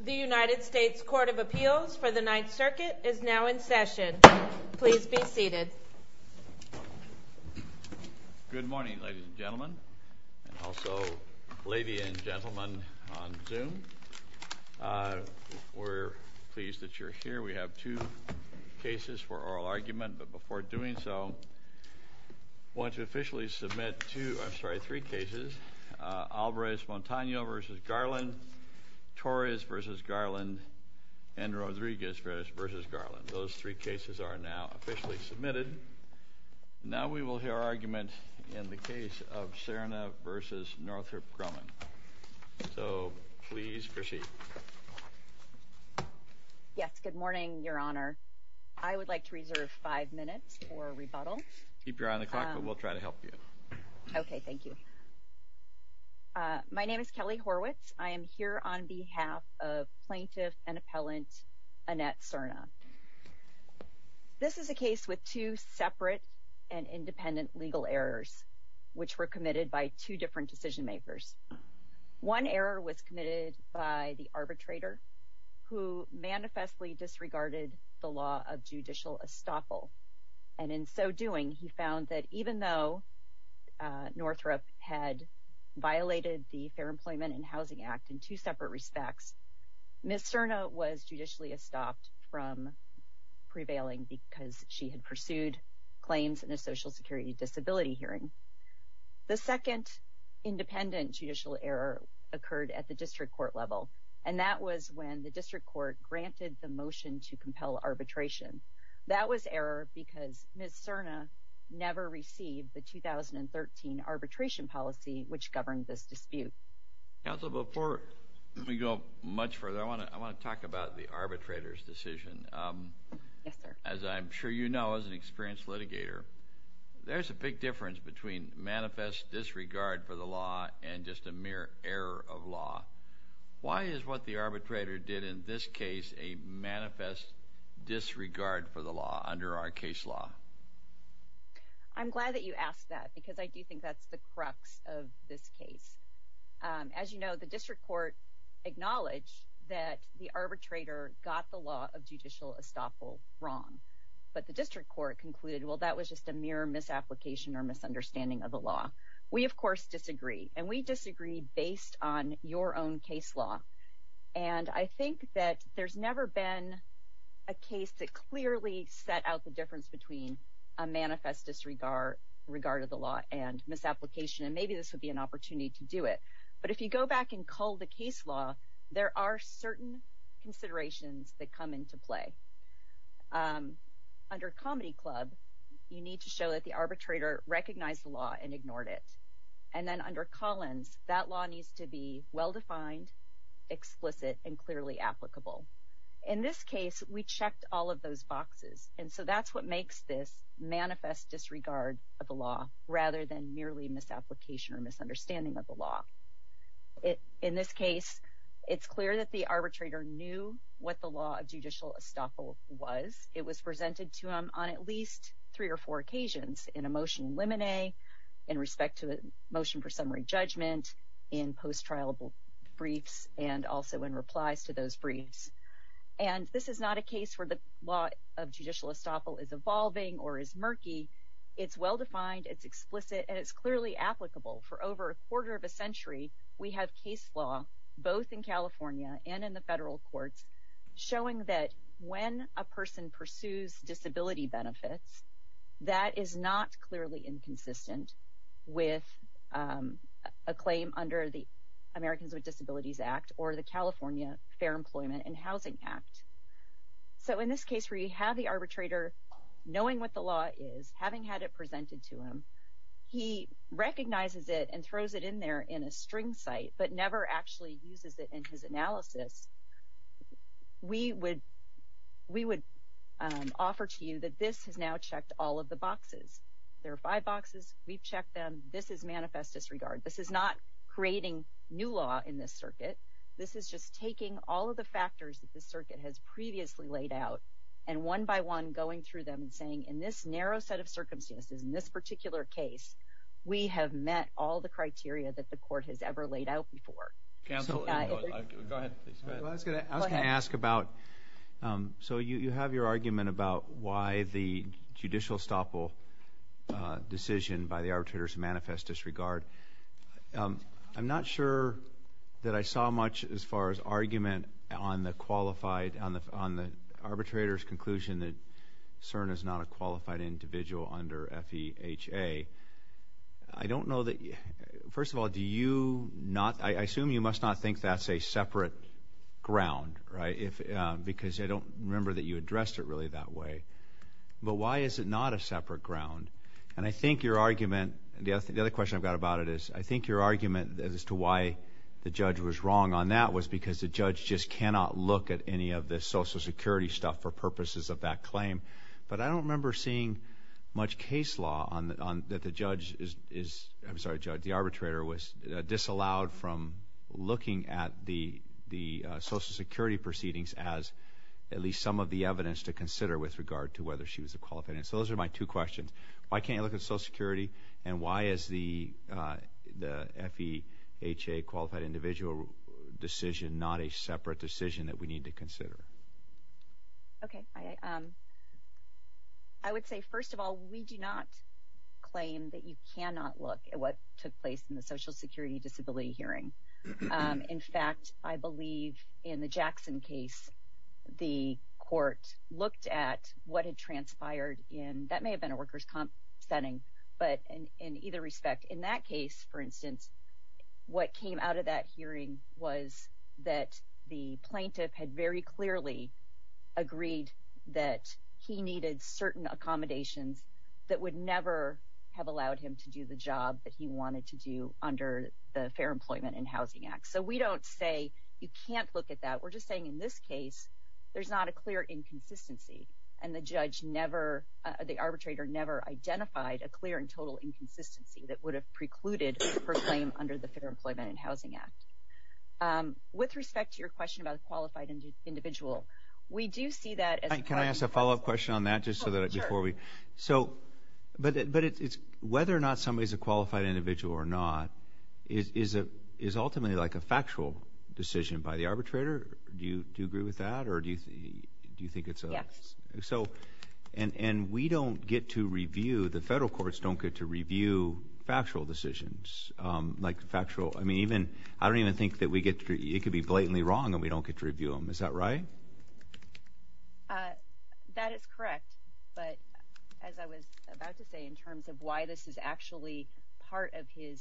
The United States Court of Appeals for the Ninth Circuit is now in session. Please be seated. Good morning, ladies and gentlemen, and also ladies and gentlemen on Zoom. We're pleased that you're here. We have two cases for oral argument, but before doing so, I want to officially submit two, I'm sorry, three cases. Alvarez-Montano v. Garland, Torres v. Garland, and Rodriguez v. Garland. Those three cases are now officially submitted. Now we will hear argument in the case of Serna v. Northrop Grumman. So please proceed. Yes, good morning, Your Honor. I would like to reserve five minutes for rebuttal. Keep your eye on the clock, but we'll try to help you. Okay, thank you. My name is Kelly Horwitz. I am here on behalf of Plaintiff and Appellant Annette Serna. This is a case with two separate and independent legal errors, which were committed by two different decision makers. One error was committed by the arbitrator, who manifestly disregarded the law of judicial estoppel. And in so doing, he found that even though Northrop had violated the Fair Employment and Housing Act in two separate respects, Ms. Serna was judicially estopped from prevailing because she had pursued claims in a Social Security disability hearing. The second independent judicial error occurred at the district court level, and that was when the district court granted the motion to compel arbitration. That was error because Ms. Serna never received the 2013 arbitration policy, which governed this dispute. Counsel, before we go much further, I want to talk about the arbitrator's decision. Yes, sir. As I'm sure you know as an experienced litigator, there's a big difference between manifest disregard for the law and just a mere error of law. Why is what the arbitrator did in this case a manifest disregard for the law under our case law? I'm glad that you asked that because I do think that's the crux of this case. As you know, the district court acknowledged that the arbitrator got the law of judicial estoppel wrong. But the district court concluded, well, that was just a mere misapplication or misunderstanding of the law. We, of course, disagree, and we disagree based on your own case law. And I think that there's never been a case that clearly set out the difference between a manifest disregard of the law and misapplication, and maybe this would be an opportunity to do it. But if you go back and cull the case law, there are certain considerations that come into play. Under Comedy Club, you need to show that the arbitrator recognized the law and ignored it. And then under Collins, that law needs to be well-defined, explicit, and clearly applicable. In this case, we checked all of those boxes, and so that's what makes this manifest disregard of the law rather than merely misapplication or misunderstanding of the law. In this case, it's clear that the arbitrator knew what the law of judicial estoppel was. It was presented to him on at least three or four occasions in a motion in limine, in respect to the motion for summary judgment, in post-trial briefs, and also in replies to those briefs. And this is not a case where the law of judicial estoppel is evolving or is murky. It's well-defined, it's explicit, and it's clearly applicable. For over a quarter of a century, we have case law both in California and in the federal courts showing that when a person pursues disability benefits, that is not clearly inconsistent with a claim under the Americans with Disabilities Act or the California Fair Employment and Housing Act. So in this case where you have the arbitrator knowing what the law is, having had it presented to him, he recognizes it and throws it in there in a string site but never actually uses it in his analysis, we would offer to you that this has now checked all of the boxes. There are five boxes, we've checked them, this is manifest disregard. This is not creating new law in this circuit. This is just taking all of the factors that this circuit has previously laid out and one by one going through them and saying, in this narrow set of circumstances, in this particular case, we have met all the criteria that the court has ever laid out before. Go ahead. I was going to ask about, so you have your argument about why the judicial estoppel decision by the arbitrator is manifest disregard. I'm not sure that I saw much as far as argument on the arbitrator's conclusion that CERN is not a qualified individual under FEHA. I don't know that, first of all, do you not, I assume you must not think that's a separate ground, right, because I don't remember that you addressed it really that way. But why is it not a separate ground? And I think your argument, the other question I've got about it is, I think your argument as to why the judge was wrong on that was because the But I don't remember seeing much case law that the judge is, I'm sorry, the arbitrator was disallowed from looking at the Social Security proceedings as at least some of the evidence to consider with regard to whether she was a qualified individual. So those are my two questions. Why can't you look at Social Security and why is the FEHA qualified individual decision not a separate decision that we need to consider? Okay. I would say, first of all, we do not claim that you cannot look at what took place in the Social Security disability hearing. In fact, I believe in the Jackson case, the court looked at what had transpired in, that may have been a workers' comp setting, but in either respect, in that case, for instance, what came out of that hearing was that the plaintiff had very clearly agreed that he needed certain accommodations that would never have allowed him to do the job that he wanted to do under the Fair Employment and Housing Act. So we don't say you can't look at that. We're just saying in this case, there's not a clear inconsistency, and the judge never, the arbitrator never identified a clear and total inconsistency that would have precluded her claim under the Fair Employment and Housing Act. With respect to your question about a qualified individual, we do see that as a question. Can I ask a follow-up question on that just so that before we? Sure. So, but it's whether or not somebody's a qualified individual or not is ultimately like a factual decision by the arbitrator. Do you agree with that, or do you think it's a? Yes. So, and we don't get to review, the federal courts don't get to review factual decisions, like factual. I mean, even, I don't even think that we get to, it could be blatantly wrong and we don't get to review them. Is that right? That is correct, but as I was about to say, in terms of why this is actually part of his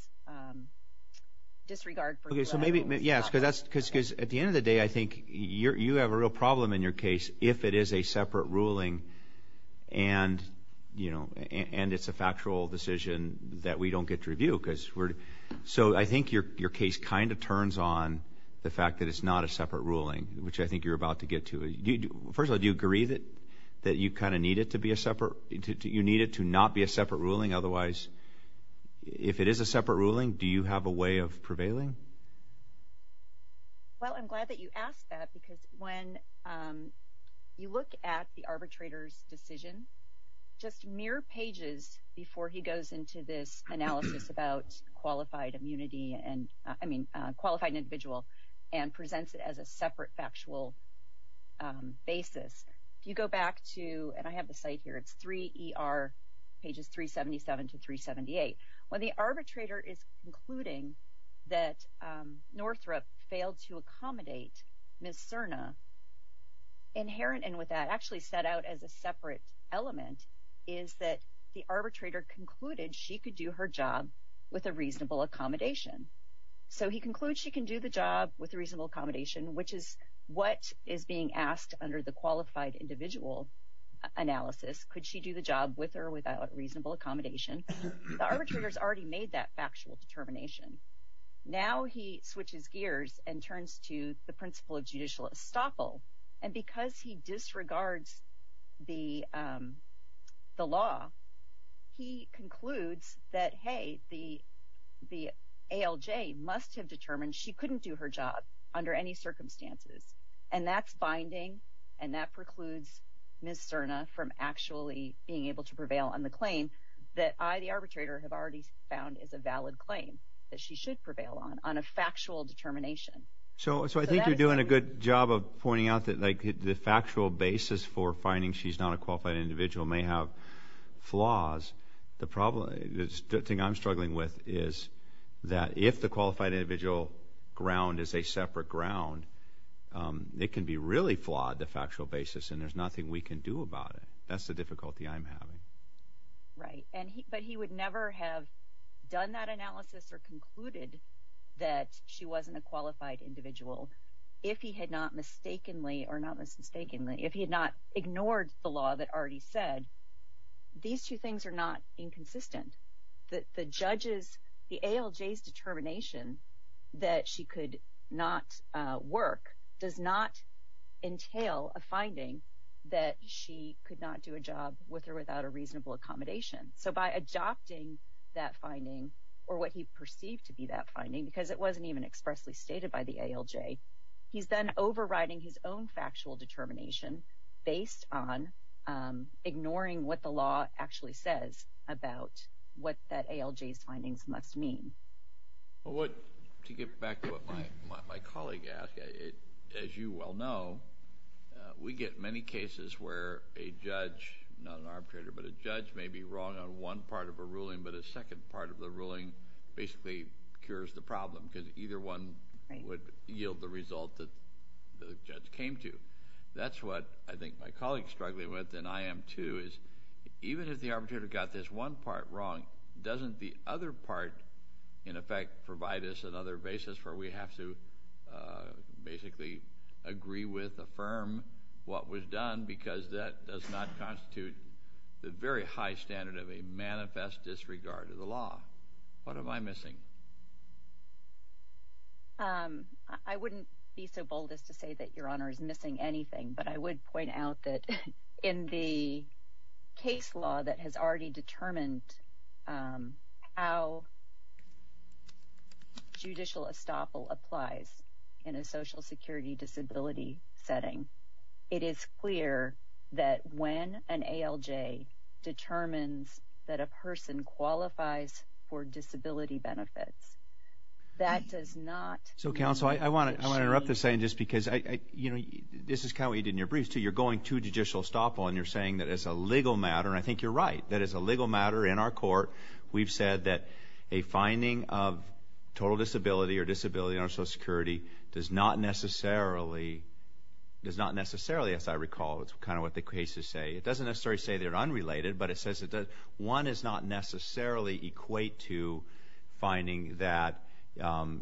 disregard for. Okay, so maybe, yes, because at the end of the day, I think you have a real problem in your case if it is a separate ruling and, you know, and it's a factual decision that we don't get to review because we're, so I think your case kind of turns on the fact that it's not a separate ruling, which I think you're about to get to. First of all, do you agree that you kind of need it to be a separate, you need it to not be a separate ruling? Otherwise, if it is a separate ruling, do you have a way of prevailing? Well, I'm glad that you asked that because when you look at the arbitrator's mere pages before he goes into this analysis about qualified immunity and, I mean, qualified individual and presents it as a separate factual basis, if you go back to, and I have the site here, it's 3ER, pages 377 to 378. When the arbitrator is concluding that Northrop failed to accommodate Ms. is that the arbitrator concluded she could do her job with a reasonable accommodation. So he concludes she can do the job with a reasonable accommodation, which is what is being asked under the qualified individual analysis. Could she do the job with or without reasonable accommodation? The arbitrator has already made that factual determination. Now he switches gears and turns to the principle of judicial estoppel, and because he disregards the law, he concludes that, hey, the ALJ must have determined she couldn't do her job under any circumstances, and that's binding, and that precludes Ms. Cerna from actually being able to prevail on the claim that I, the arbitrator, have already found is a valid claim that she should prevail on, on a factual determination. So I think you're doing a good job of pointing out that, like, the factual basis for finding she's not a qualified individual may have flaws. The thing I'm struggling with is that if the qualified individual ground is a separate ground, it can be really flawed, the factual basis, and there's nothing we can do about it. That's the difficulty I'm having. Right, but he would never have done that analysis or concluded that she wasn't a qualified individual if he had not mistakenly or not mistakenly, if he had not ignored the law that already said. These two things are not inconsistent. The judges, the ALJ's determination that she could not work does not entail a finding that she could not do a job with or without a reasonable accommodation. So by adopting that finding or what he perceived to be that finding, because it wasn't even expressly stated by the ALJ, he's then overriding his own factual determination based on ignoring what the law actually says about what that ALJ's findings must mean. Well, to get back to what my colleague asked, as you well know, we get many cases where a judge, not an arbitrator, but a judge may be wrong on one part of a ruling, but a second part of the ruling basically cures the problem because either one would yield the result that the judge came to. That's what I think my colleague is struggling with, and I am too, is even if the arbitrator got this one part wrong, doesn't the other part, in effect, provide us another basis where we have to basically agree with, affirm what was done, because that does not constitute the very high standard of a manifest disregard of the law? What am I missing? I wouldn't be so bold as to say that Your Honor is missing anything, but I would point out that in the case law that has already determined how judicial estoppel applies in a Social Security disability setting, it is clear that when an ALJ determines that a person qualifies for disability benefits, that does not mean that she... You're going to judicial estoppel, and you're saying that it's a legal matter, and I think you're right. That it's a legal matter in our court. We've said that a finding of total disability or disability in our Social Security does not necessarily, as I recall, it's kind of what the cases say. It doesn't necessarily say they're unrelated, but it says one does not necessarily equate to finding that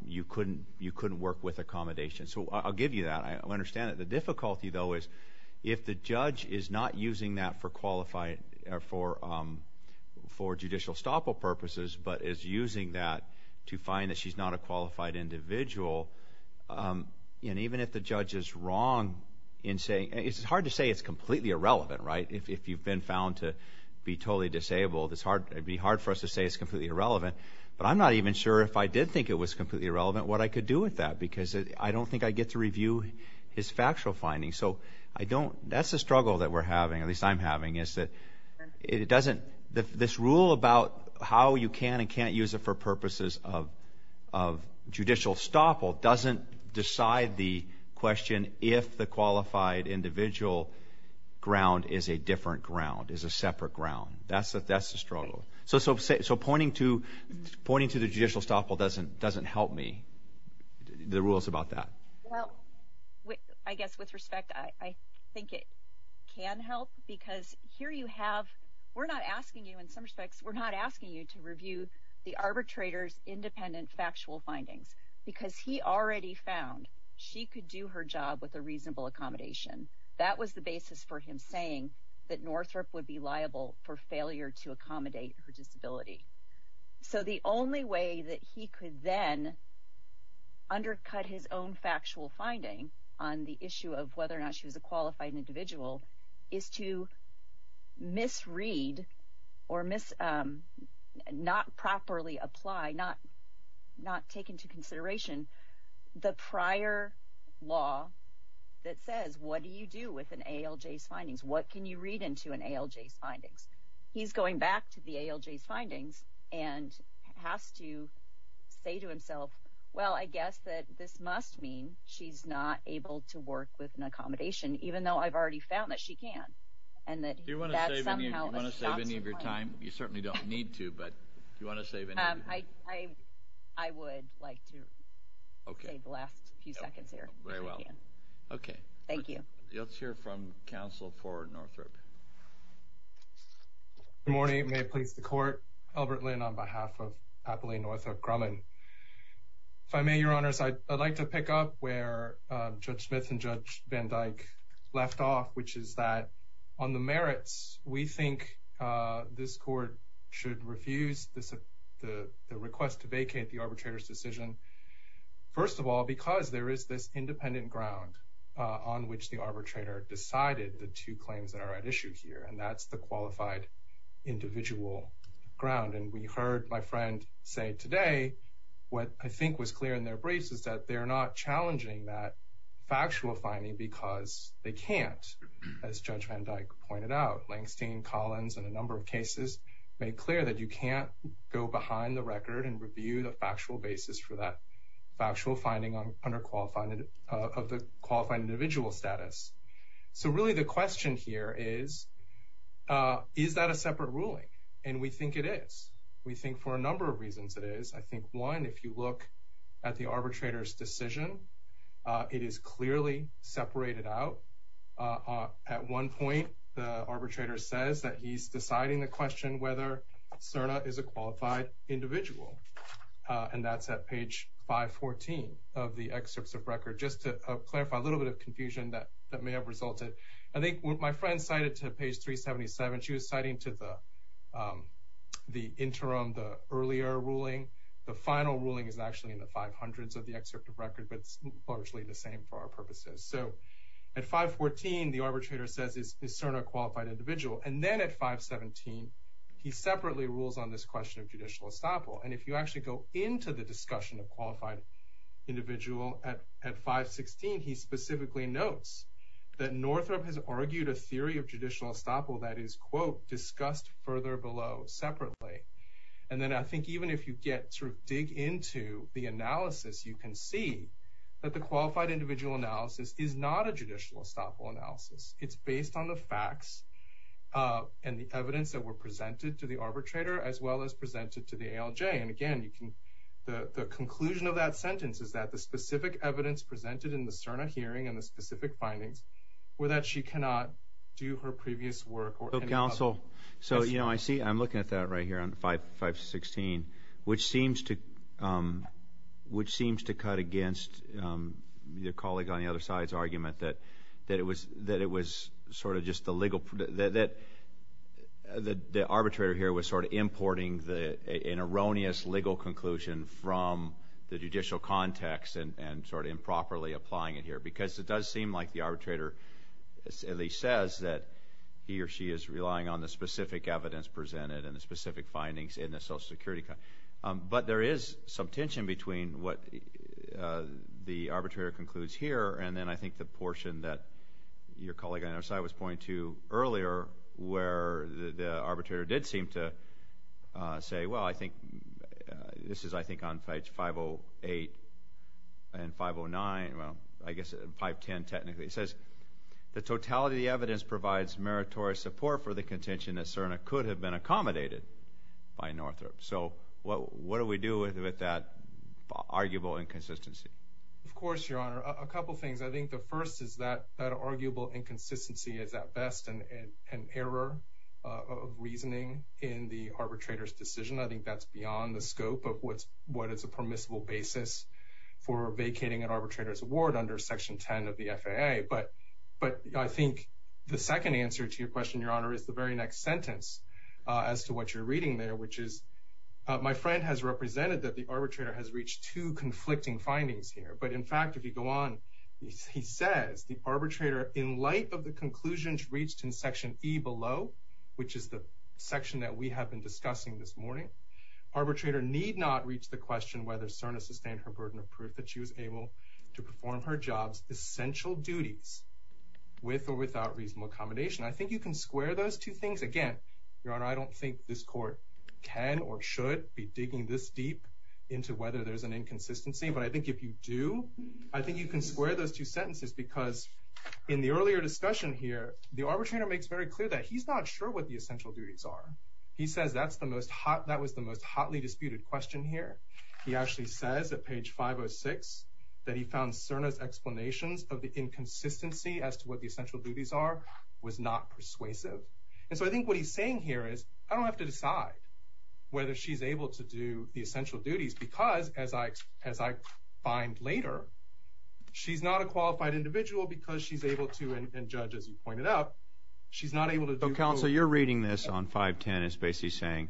you couldn't work with accommodation. So I'll give you that. I understand that the difficulty, though, is if the judge is not using that for qualified or for judicial estoppel purposes, but is using that to find that she's not a qualified individual, and even if the judge is wrong in saying... It's hard to say it's completely irrelevant, right? If you've been found to be totally disabled, it'd be hard for us to say it's completely irrelevant, but I'm not even sure if I did think it was completely irrelevant what I could do with that because I don't think I'd get to review his factual findings. So that's the struggle that we're having, at least I'm having, is that this rule about how you can and can't use it for purposes of judicial estoppel doesn't decide the question if the qualified individual ground is a different ground, is a separate ground. That's the struggle. So pointing to the judicial estoppel doesn't help me. The rules about that. Well, I guess with respect, I think it can help because here you have... We're not asking you, in some respects, we're not asking you to review the arbitrator's independent factual findings because he already found she could do her job with a reasonable accommodation. That was the basis for him saying that Northrop would be liable for failure to accommodate her disability. So the only way that he could then undercut his own factual finding on the issue of whether or not she was a qualified individual is to misread or not properly apply, not take into consideration the prior law that says, what do you do with an ALJ's findings? He's going back to the ALJ's findings and has to say to himself, well, I guess that this must mean she's not able to work with an accommodation, even though I've already found that she can. Do you want to save any of your time? You certainly don't need to, but do you want to save any of your time? I would like to save the last few seconds here. Very well. Okay. Thank you. Let's hear from counsel for Northrop. Good morning. May it please the court. Albert Lin on behalf of Appalachian Northrop Grumman. If I may, your honors, I'd like to pick up where Judge Smith and Judge Van Dyke left off, which is that on the merits, we think this court should refuse the request to vacate the arbitrator's decision. First of all, because there is this independent ground on which the arbitrator decided the two claims that are at issue here, and that's the qualified individual ground. And we heard my friend say today, what I think was clear in their briefs is that they're not challenging that factual finding because they can't, as Judge Van Dyke pointed out. Langstein, Collins, and a number of cases made clear that you can't go behind the record and challenge that factual finding of the qualified individual status. So really the question here is, is that a separate ruling? And we think it is. We think for a number of reasons it is. I think one, if you look at the arbitrator's decision, it is clearly separated out. At one point, the arbitrator says that he's deciding the question, whether Cerna is a qualified individual. And that's at page 514 of the excerpts of record. Just to clarify a little bit of confusion that may have resulted. I think my friend cited to page 377, she was citing to the interim, the earlier ruling. The final ruling is actually in the 500s of the excerpt of record, but it's largely the same for our purposes. So at 514, the arbitrator says is Cerna qualified individual. And then at 517, he separately rules on this question of judicial estoppel. And if you actually go into the discussion of qualified individual at, at 516, he specifically notes that Northrop has argued a theory of judicial estoppel that is quote discussed further below separately. And then I think even if you get through, dig into the analysis, you can see that the qualified individual analysis is not a judicial estoppel analysis. It's based on the facts and the evidence that were presented to the jury. And again, you can, the, the conclusion of that sentence is that the specific evidence presented in the Cerna hearing and the specific findings were that she cannot do her previous work. So, you know, I see, I'm looking at that right here on five, five, 16, which seems to which seems to cut against your colleague on the other side's argument that, that it was, that it was sort of just the legal, that, that the, the arbitrator here was sort of importing the, an erroneous legal conclusion from the judicial context and sort of improperly applying it here, because it does seem like the arbitrator at least says that he or she is relying on the specific evidence presented and the specific findings in the social security. But there is some tension between what the arbitrator concludes here. And then I think the portion that your colleague on our side was pointing to earlier, where the arbitrator did seem to say, well, I think this is, I think on page 508 and 509, well, I guess 510 technically, it says the totality of the evidence provides meritorious support for the contention that Cerna could have been accommodated by Northrop. So what, what do we do with, with that arguable inconsistency? Of course, Your Honor, a couple of things. I think the first is that that arguable inconsistency is at best an, an error of reasoning in the arbitrator's decision. I think that's beyond the scope of what's, what is a permissible basis for vacating an arbitrator's award under section 10 of the FAA. But, but I think the second answer to your question, Your Honor is the very next sentence as to what you're reading there, which is my friend has represented that the arbitrator has reached two conflicting findings here. But in fact, if you go on, he says the arbitrator in light of the conclusions reached in section E below, which is the section that we have been discussing this morning, arbitrator need not reach the question, whether Cerna sustained her burden of proof that she was able to perform her jobs, essential duties with or without reasonable accommodation. I think you can square those two things. Again, Your Honor, I don't think this court can or should be digging this deep into whether there's an inconsistency, but I think if you do, I think you can square those two sentences because in the earlier discussion here, the arbitrator makes very clear that he's not sure what the essential duties are. He says, that's the most hot. That was the most hotly disputed question here. He actually says at page five or six that he found Cerna's explanations of the inconsistency as to what the essential duties are was not persuasive. And so I think what he's saying here is I don't have to decide whether she's able to do the essential duties because as I find later, she's not a qualified individual because she's able to, and Judge, as you pointed out, she's not able to do. So, Counselor, you're reading this on 510, as Basie's saying.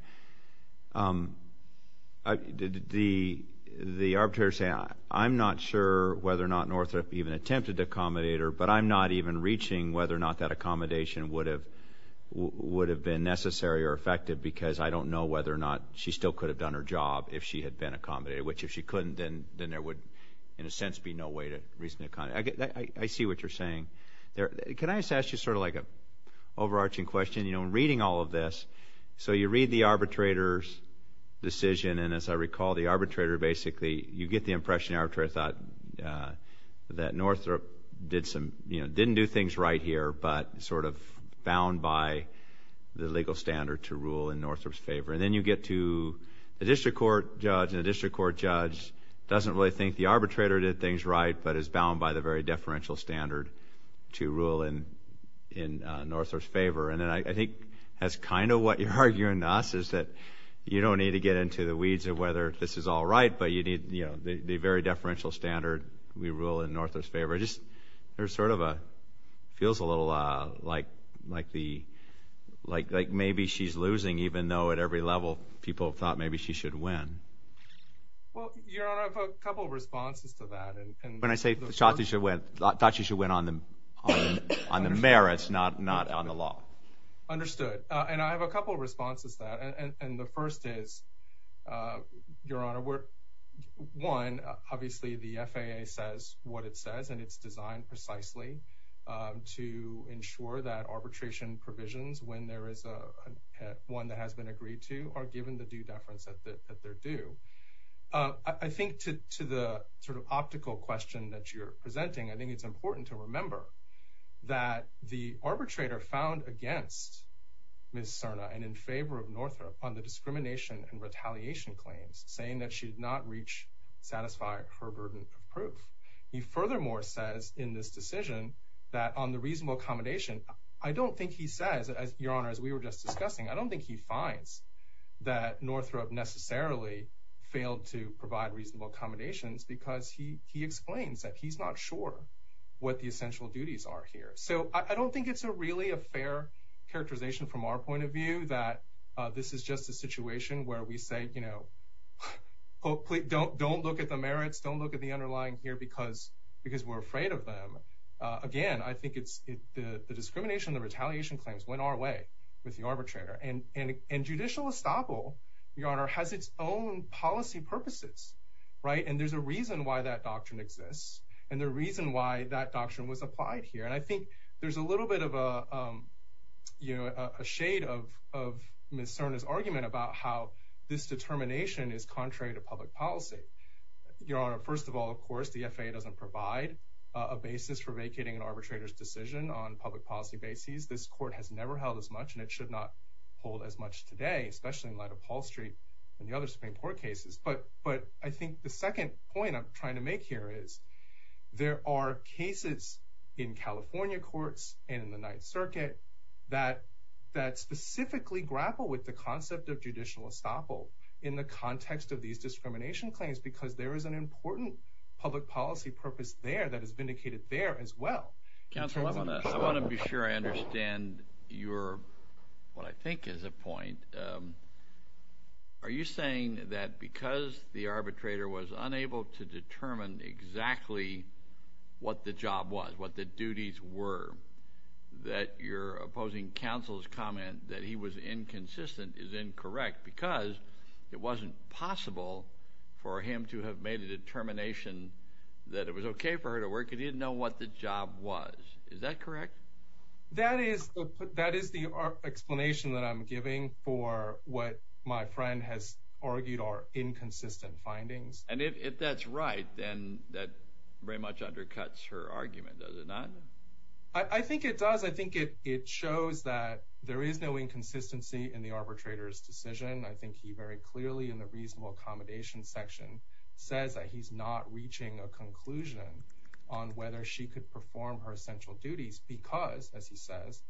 The arbitrator's saying, I'm not sure whether or not Northrop even attempted to accommodate her, but I'm not even reaching whether or not that accommodation would have been necessary or effective because I don't know whether or not she still could have done her job if she had been accommodated, which if she couldn't, then there would, in a sense, be no way to reasonably accommodate. I see what you're saying. Can I just ask you sort of like an overarching question? You know, in reading all of this, so you read the arbitrator's decision, and as I recall, the arbitrator basically, you get the impression, the arbitrator thought that Northrop didn't do things right here but sort of bound by the legal standard to rule in Northrop's favor. And then you get to the district court judge, and the district court judge doesn't really think the arbitrator did things right but is bound by the very deferential standard to rule in Northrop's favor. And I think that's kind of what you're arguing to us is that you don't need to get into the weeds of whether this is all right, but you need, you know, the very deferential standard, we rule in Northrop's favor. It just sort of feels a little like maybe she's losing, even though at every level people thought maybe she should win. Well, Your Honor, I have a couple of responses to that. When I say thought she should win, I thought she should win on the merits, not on the law. Understood. And I have a couple of responses to that. And the first is, Your Honor, one, obviously the FAA says what it says, and it's designed precisely to ensure that arbitration provisions, when there is one that has been agreed to, are given the due deference that they're due. I think to the sort of optical question that you're presenting, I think it's important to remember that the arbitrator found against Ms. Cerna and in favor of Northrop on the discrimination and retaliation claims, saying that she did not reach, satisfy her burden of proof. He furthermore says in this decision that on the reasonable accommodation, I don't think he says, Your Honor, as we were just discussing, I don't think he finds that Northrop necessarily failed to provide reasonable accommodations because he explains that he's not sure what the essential duties are here. So I don't think it's a really a fair characterization from our point of view that this is just a situation where we say, you know, don't look at the merits, don't look at the underlying here, because we're afraid of them. Again, I think it's the discrimination, the retaliation claims went our way with the arbitrator and judicial estoppel, Your Honor, has its own policy purposes, right? And there's a reason why that doctrine exists. And the reason why that doctrine was applied here. And I think there's a little bit of a, you know, a shade of Ms. Cerna's argument about how this determination is contrary to public policy. Your Honor, first of all, of course, the FAA doesn't provide a basis for vacating an arbitrator's decision on public policy basis. This court has never held as much, and it should not hold as much today, especially in light of hall street and the other Supreme court cases. But, but I think the second point I'm trying to make here is there are cases in California courts and in the ninth circuit that, that specifically grapple with the concept of judicial estoppel in the context of these discrimination claims, because there is an important public policy purpose there that is vindicated there as well. I want to be sure I understand your, what I think is a point. Are you saying that because the arbitrator was unable to determine exactly what the job was, what the duties were, that you're opposing counsel's comment that he was inconsistent is incorrect because it wasn't possible for him to have made a determination that it was okay for her to work and he didn't know what the job was. Is that correct? That is the explanation that I'm giving for what my friend has argued are inconsistent findings. And if that's right, then that very much undercuts her argument. Does it not? I think it does. I think it shows that there is no inconsistency in the arbitrator's decision. I think he very clearly in the reasonable accommodation section says that he's not reaching a conclusion on whether she could perform her essential duties because as he says,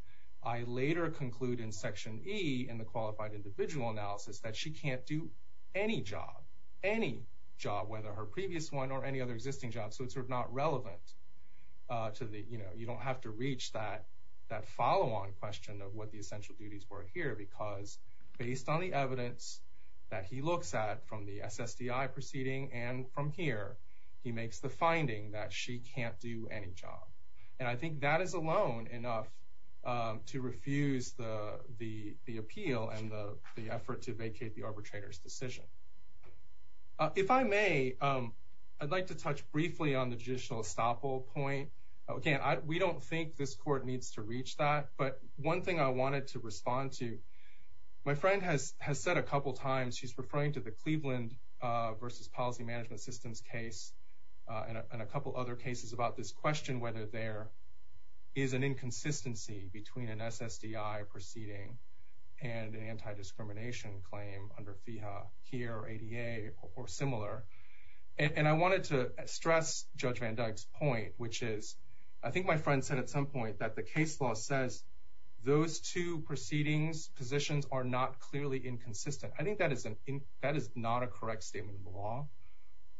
I later conclude in section E in the qualified individual analysis that she can't do any job, any job, whether her previous one or any other existing job. So it's sort of not relevant to the, you know, to have to reach that, that follow on question of what the essential duties were here, because based on the evidence that he looks at from the SSDI proceeding, and from here, he makes the finding that she can't do any job. And I think that is alone enough to refuse the, the, the appeal and the effort to vacate the arbitrator's decision. If I may, I'd like to touch briefly on the judicial estoppel point. Again, I, we don't think this court needs to reach that, but one thing I wanted to respond to, my friend has, has said a couple times, she's referring to the Cleveland versus policy management systems case and a couple other cases about this question, whether there is an inconsistency between an SSDI proceeding and an anti-discrimination claim under FIHA here or ADA or similar. And I wanted to stress judge Van Dyke's point, which is, I think my friend said at some point that the case law says those two proceedings positions are not clearly inconsistent. I think that is an, that is not a correct statement of law.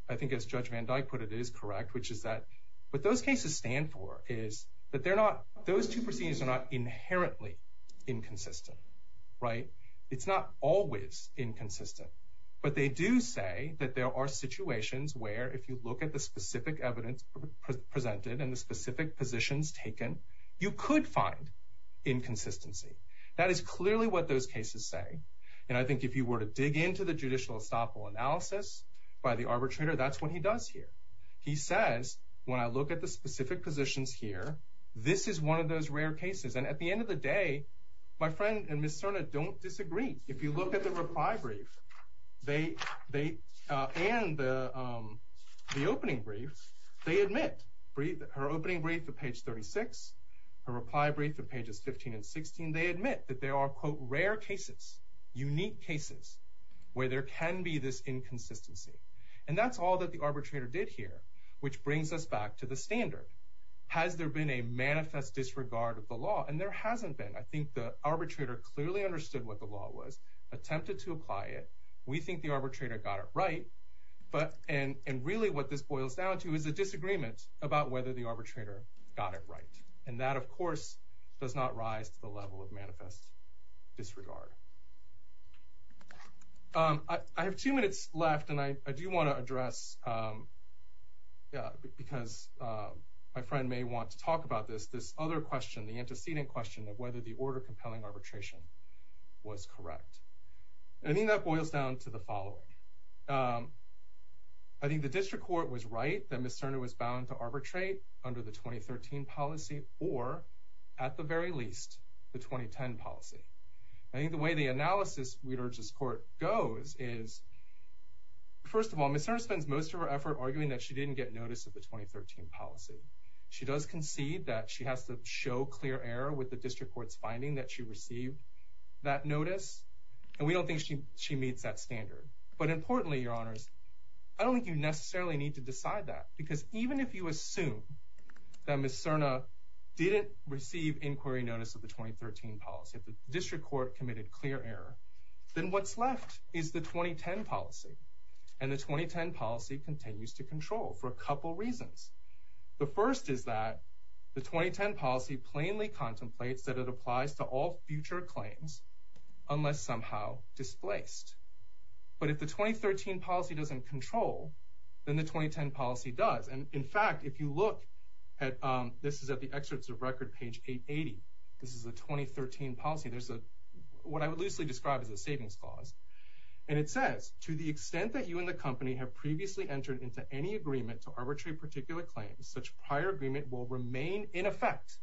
I think as judge Van Dyke put it, it is correct, which is that, but those cases stand for is that they're not, those two proceedings are not inherently inconsistent, right? It's not always inconsistent, but they do say that there are situations where if you look at the specific evidence presented and the specific positions taken, you could find inconsistency. That is clearly what those cases say. And I think if you were to dig into the judicial estoppel analysis by the arbitrator, that's what he does here. He says, when I look at the specific positions here, this is one of those rare cases. And at the end of the day, my friend and Ms. Cerna don't disagree. If you look at the reply brief, they, they, uh, and the, um, the opening brief, they admit her opening brief to page 36, her reply brief to pages 15 and 16. They admit that there are quote rare cases, unique cases where there can be this inconsistency. And that's all that the arbitrator did here, which brings us back to the standard. Has there been a manifest disregard of the law? And there hasn't been, I think the arbitrator clearly understood what the law was attempted to apply it. We think the arbitrator got it right, but, and, and really what this boils down to is a disagreement about whether the arbitrator got it right. And that of course does not rise to the level of manifest disregard. Um, I have two minutes left and I do want to address, um, yeah, because, um, my friend may want to talk about this, this other question, the antecedent question of whether the order compelling arbitration was correct. I mean, that boils down to the following. Um, I think the district court was right. Then Miss Turner was bound to arbitrate under the 2013 policy or at the very least the 2010 policy. I think the way the analysis we'd urge this court goes is first of all, Miss Turner spends most of her effort arguing that she didn't get notice of the 2013 policy. She does concede that she has to show clear error with the district court's finding that she received that notice and we don't think she, she meets that standard. But importantly, your honors, I don't think you necessarily need to decide that because even if you assume that Miss Serna didn't receive inquiry notice of the 2013 policy, the district court committed clear error, then what's left is the 2010 policy and the 2010 policy continues to control for a couple reasons. As to all future claims, unless somehow displaced, but if the 2013 policy doesn't control, then the 2010 policy does. And in fact, if you look at, um, this is at the excerpts of record, page eight 80, this is a 2013 policy. There's a, what I would loosely describe as a savings clause. And it says, to the extent that you and the company have previously entered into any agreement to arbitrate particular claims, such prior agreement will remain in effect,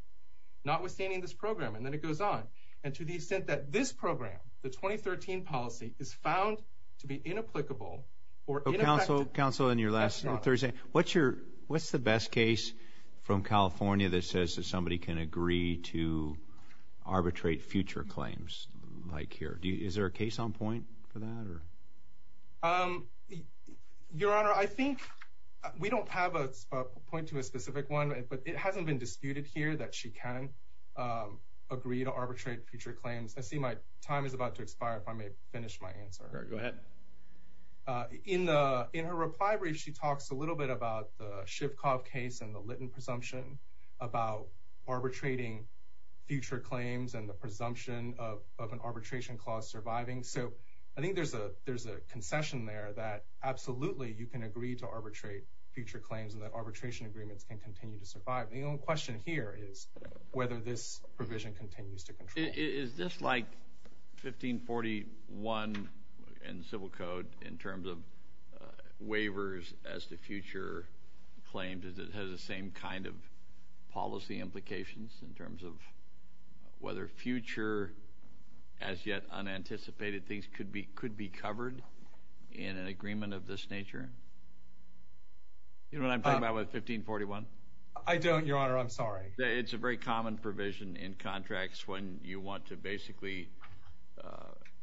not withstanding this program. And then it goes on. And to the extent that this program, the 2013 policy is found to be inapplicable or council council in your last Thursday, what's your, what's the best case from California that says that somebody can agree to arbitrate future claims like here. Do you, is there a case on point for that or, um, your honor, I think we don't have a point to a specific one, but it hasn't been disputed here that she can, um, agree to arbitrate future claims. I see my time is about to expire if I may finish my answer. In the, in her reply brief, she talks a little bit about the shift cough case and the Lytton presumption about arbitrating future claims and the presumption of, of an arbitration clause surviving. So I think there's a, there's a concession there that absolutely you can agree to arbitrate future claims. But the question here is whether this provision continues to control. Is this like 1541 and civil code in terms of, uh, waivers as the future claims, is it has the same kind of policy implications in terms of whether future as yet unanticipated things could be, could be covered in an agreement of this nature? You know what I'm talking about with 1541? I don't, your honor. I'm sorry. It's a very common provision in contracts when you want to basically, uh,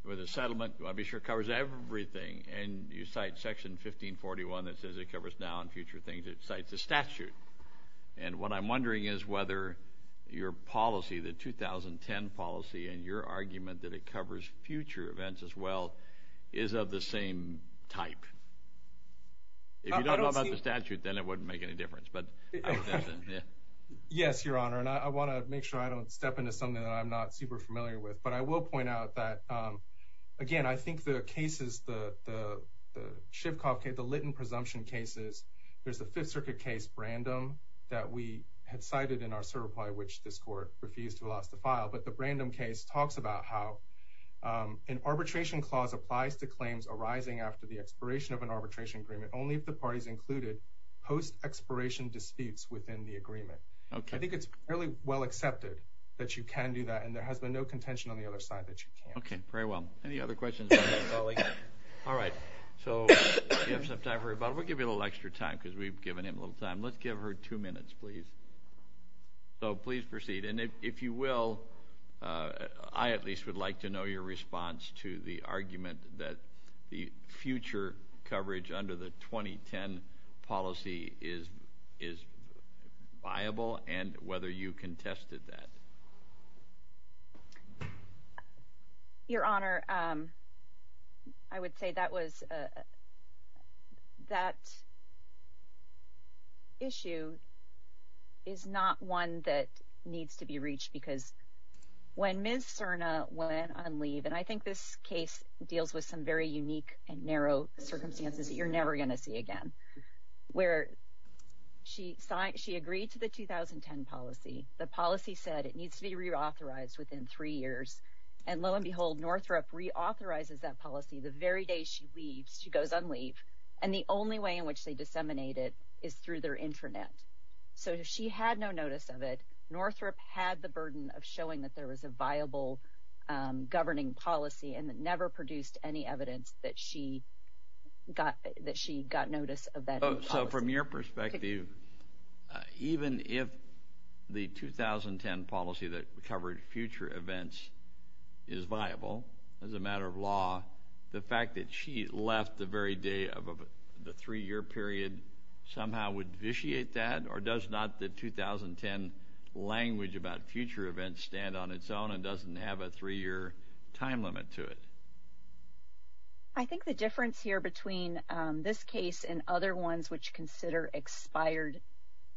with a settlement, I'll be sure it covers everything and you cite section 1541 that says it covers now and future things. It cites a statute. And what I'm wondering is whether your policy, the 2010 policy and your argument that it covers future events as well is of the same type. If you don't know about the statute, then it wouldn't make any difference. But yes, your honor. And I want to make sure I don't step into something that I'm not super familiar with, but I will point out that, um, again, I think the cases, the, the, the ship cockpit, the Lytton presumption cases, there's the fifth circuit case brandom that we had cited in our survey, which this court refused to allow us to file. But the brandom case talks about how, um, an arbitration clause applies to claims arising after the expiration of an arbitration agreement. Only if the parties included post expiration disputes within the agreement. Okay. I think it's fairly well accepted that you can do that. And there has been no contention on the other side that you can. Okay. Very well. Any other questions? All right. So you have some time for rebuttal. We'll give you a little extra time because we've given him a little time. Let's give her two minutes, please. So please proceed. And if you will, uh, go ahead. I would like to make a comment in response to the argument that the future coverage under the 2010 policy is, is viable and whether you contested that. Your honor. Um, I would say that was, uh, that issue is not one that needs to be reached because when Ms. Serna went on leave, and I think this case deals with some very unique and narrow circumstances that you're never going to see again, where she signed, she agreed to the 2010 policy. The policy said it needs to be reauthorized within three years. And lo and behold, Northrop reauthorizes that policy. The very day she leaves, she goes on leave. And the only way in which they disseminate it is through their internet. So if she had no notice of it, Northrop had the burden of showing that there was a viable, um, governing policy and that never produced any evidence that she got, that she got notice of that. So from your perspective, even if the 2010 policy that covered future events is viable as a matter of fact, does that the very day of the three year period somehow would vitiate that or does not the 2010 language about future events stand on its own and doesn't have a three year time limit to it? I think the difference here between, um, this case and other ones which consider expired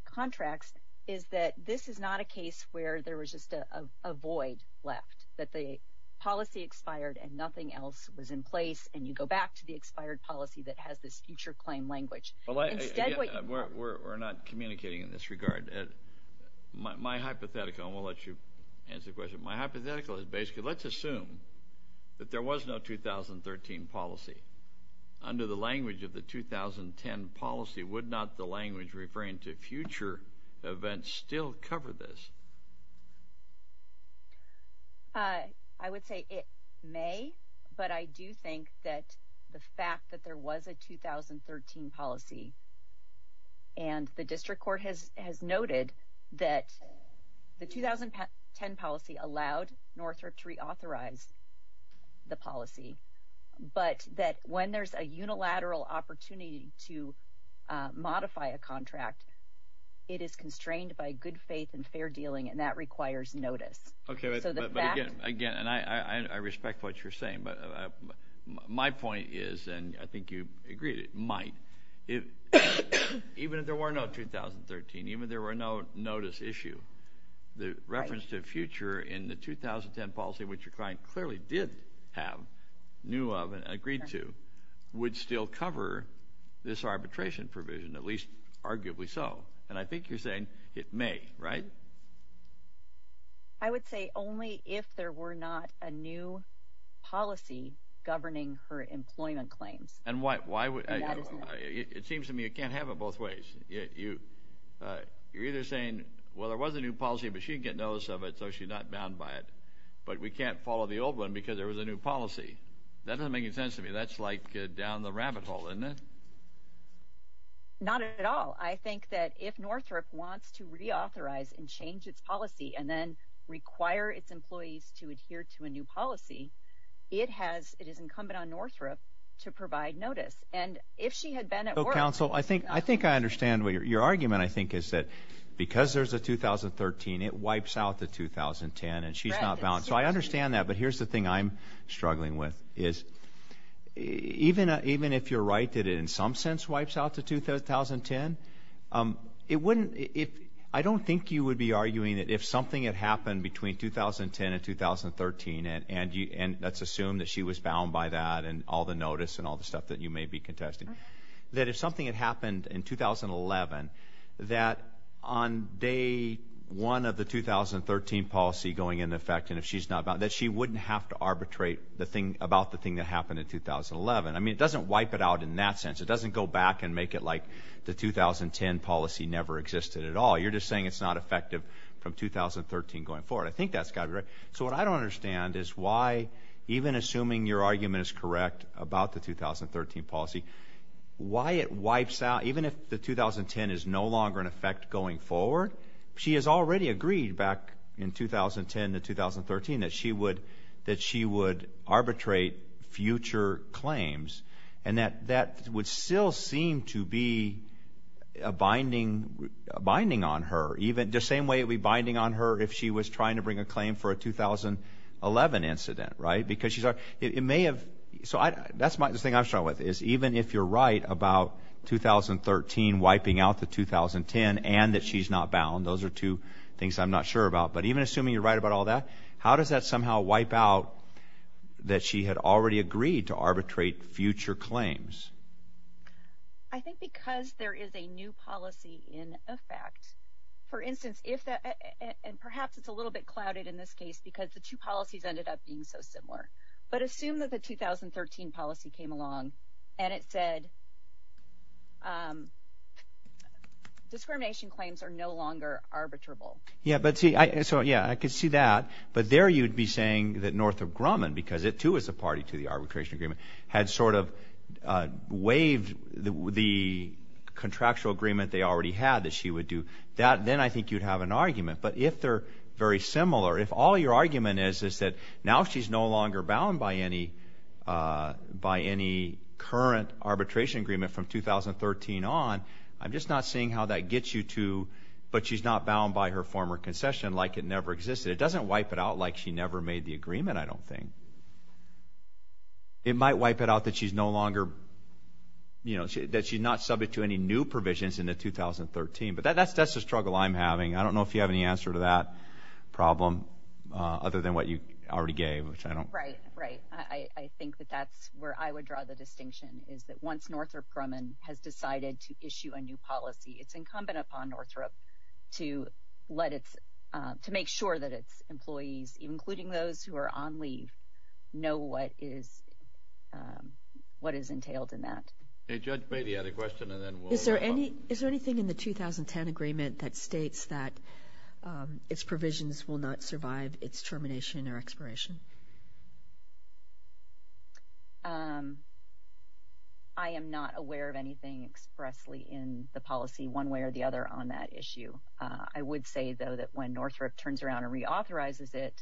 contracts is that this is not a case where there was just a void left, that the policy expired and nothing else was in place. And you go back to the expired policy that has this future claim language. We're not communicating in this regard. My hypothetical, and we'll let you answer the question, my hypothetical is basically let's assume that there was no 2013 policy. Under the language of the 2010 policy, would not the language referring to future events still cover this? I would say it may, but I do think that the fact that there was a 2013 policy and the district court has noted that the 2010 policy allowed Northrop to reauthorize the policy, but that when there's a unilateral opportunity to modify a contract, it is constrained by good faith and fair dealing and that requires notice. Okay, but again, and I respect what you're saying, but my point is, and I think you agreed, it might. Even if there were no 2013, even if there were no notice issue, the reference to future in the 2010 policy, which your client clearly did have, knew of, and agreed to, would still cover this arbitration provision, at least arguably so. And I think you're saying it may, right? I would say only if there were not a new policy governing her employment claims. And why would – it seems to me you can't have it both ways. You're either saying, well, there was a new policy, but she didn't get notice of it, so she's not bound by it, but we can't follow the old one because there was a new policy. That doesn't make any sense to me. That's like down the rabbit hole, isn't it? Not at all. I think that if Northrop wants to reauthorize and change its policy and then require its employees to adhere to a new policy, it has – it is incumbent on Northrop to provide notice. And if she had been at work – So, counsel, I think I understand what your argument, I think, is that because there's a 2013, it wipes out the 2010, and she's not bound. So I understand that, but here's the thing I'm struggling with, is even if you're right that it in some sense wipes out the 2010, it wouldn't – I don't think you would be arguing that if something had happened between 2010 and 2013, and let's assume that she was bound by that and all the notice and all the stuff that you may be contesting, that if something had happened in 2011, that on day one of the 2013 policy going into effect and if she's not bound, that she wouldn't have to arbitrate about the thing that happened in 2011. I mean, it doesn't wipe it out in that sense. It doesn't go back and make it like the 2010 policy never existed at all. You're just saying it's not effective from 2013 going forward. I think that's got to be right. So what I don't understand is why, even assuming your argument is correct about the 2013 policy, why it wipes out – even if the 2010 is no longer in effect going forward, she has already agreed back in 2010 to 2013 that she would arbitrate future claims and that that would still seem to be a binding on her, even the same way it would be binding on her if she was trying to bring a claim for a 2011 incident, right? Because it may have – so that's the thing I'm struggling with is even if you're right about 2013 wiping out the 2010 and that she's not bound, those are two things I'm not sure about, but even assuming you're right about all that, how does that somehow wipe out that she had already agreed to arbitrate future claims? I think because there is a new policy in effect. For instance, if that – and perhaps it's a little bit clouded in this case because the two policies ended up being so similar. But assume that the 2013 policy came along and it said discrimination claims are no longer arbitrable. Yeah, but see – so, yeah, I could see that, but there you'd be saying that Northrop Grumman, because it too was a party to the arbitration agreement, had sort of waived the contractual agreement they already had that she would do. Then I think you'd have an argument. But if they're very similar, if all your argument is that now she's no longer bound by any current arbitration agreement from 2013 on, I'm just not seeing how that gets you to, but she's not bound by her former concession like it never existed. It doesn't wipe it out like she never made the agreement, I don't think. It might wipe it out that she's no longer – that she's not subject to any new provisions into 2013. But that's the struggle I'm having. I don't know if you have any answer to that problem other than what you already gave, which I don't. Right, right. I think that that's where I would draw the distinction, is that once Northrop Grumman has decided to issue a new policy, it's incumbent upon Northrop to let its – to make sure that its employees, including those who are on leave, know what is entailed in that. Judge Beatty had a question, and then we'll move on. Is there anything in the 2010 agreement that states that its provisions will not survive its termination or expiration? I am not aware of anything expressly in the policy, one way or the other, on that issue. I would say, though, that when Northrop turns around and reauthorizes it,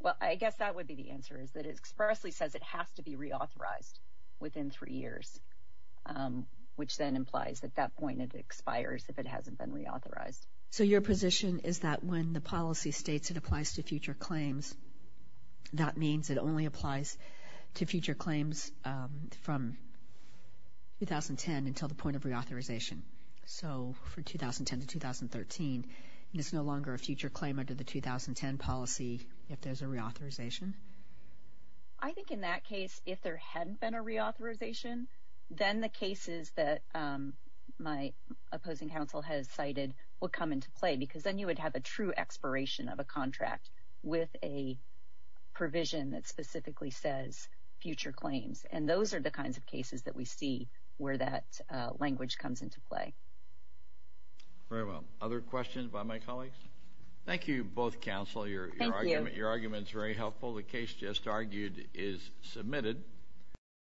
well, I guess that would be the answer, is that it expressly says it has to be reauthorized within three years, which then implies at that point it expires if it hasn't been reauthorized. So your position is that when the policy states it applies to future claims, that means it only applies to future claims from 2010 until the point of reauthorization. So for 2010 to 2013, it's no longer a future claim under the 2010 policy if there's a reauthorization? I think in that case, if there hadn't been a reauthorization, then the cases that my opposing counsel has cited will come into play because then you would have a true expiration of a contract with a provision that specifically says future claims. And those are the kinds of cases that we see where that language comes into play. Very well. Other questions by my colleagues? Thank you, both counsel. Thank you. Your argument is very helpful. The case just argued is submitted.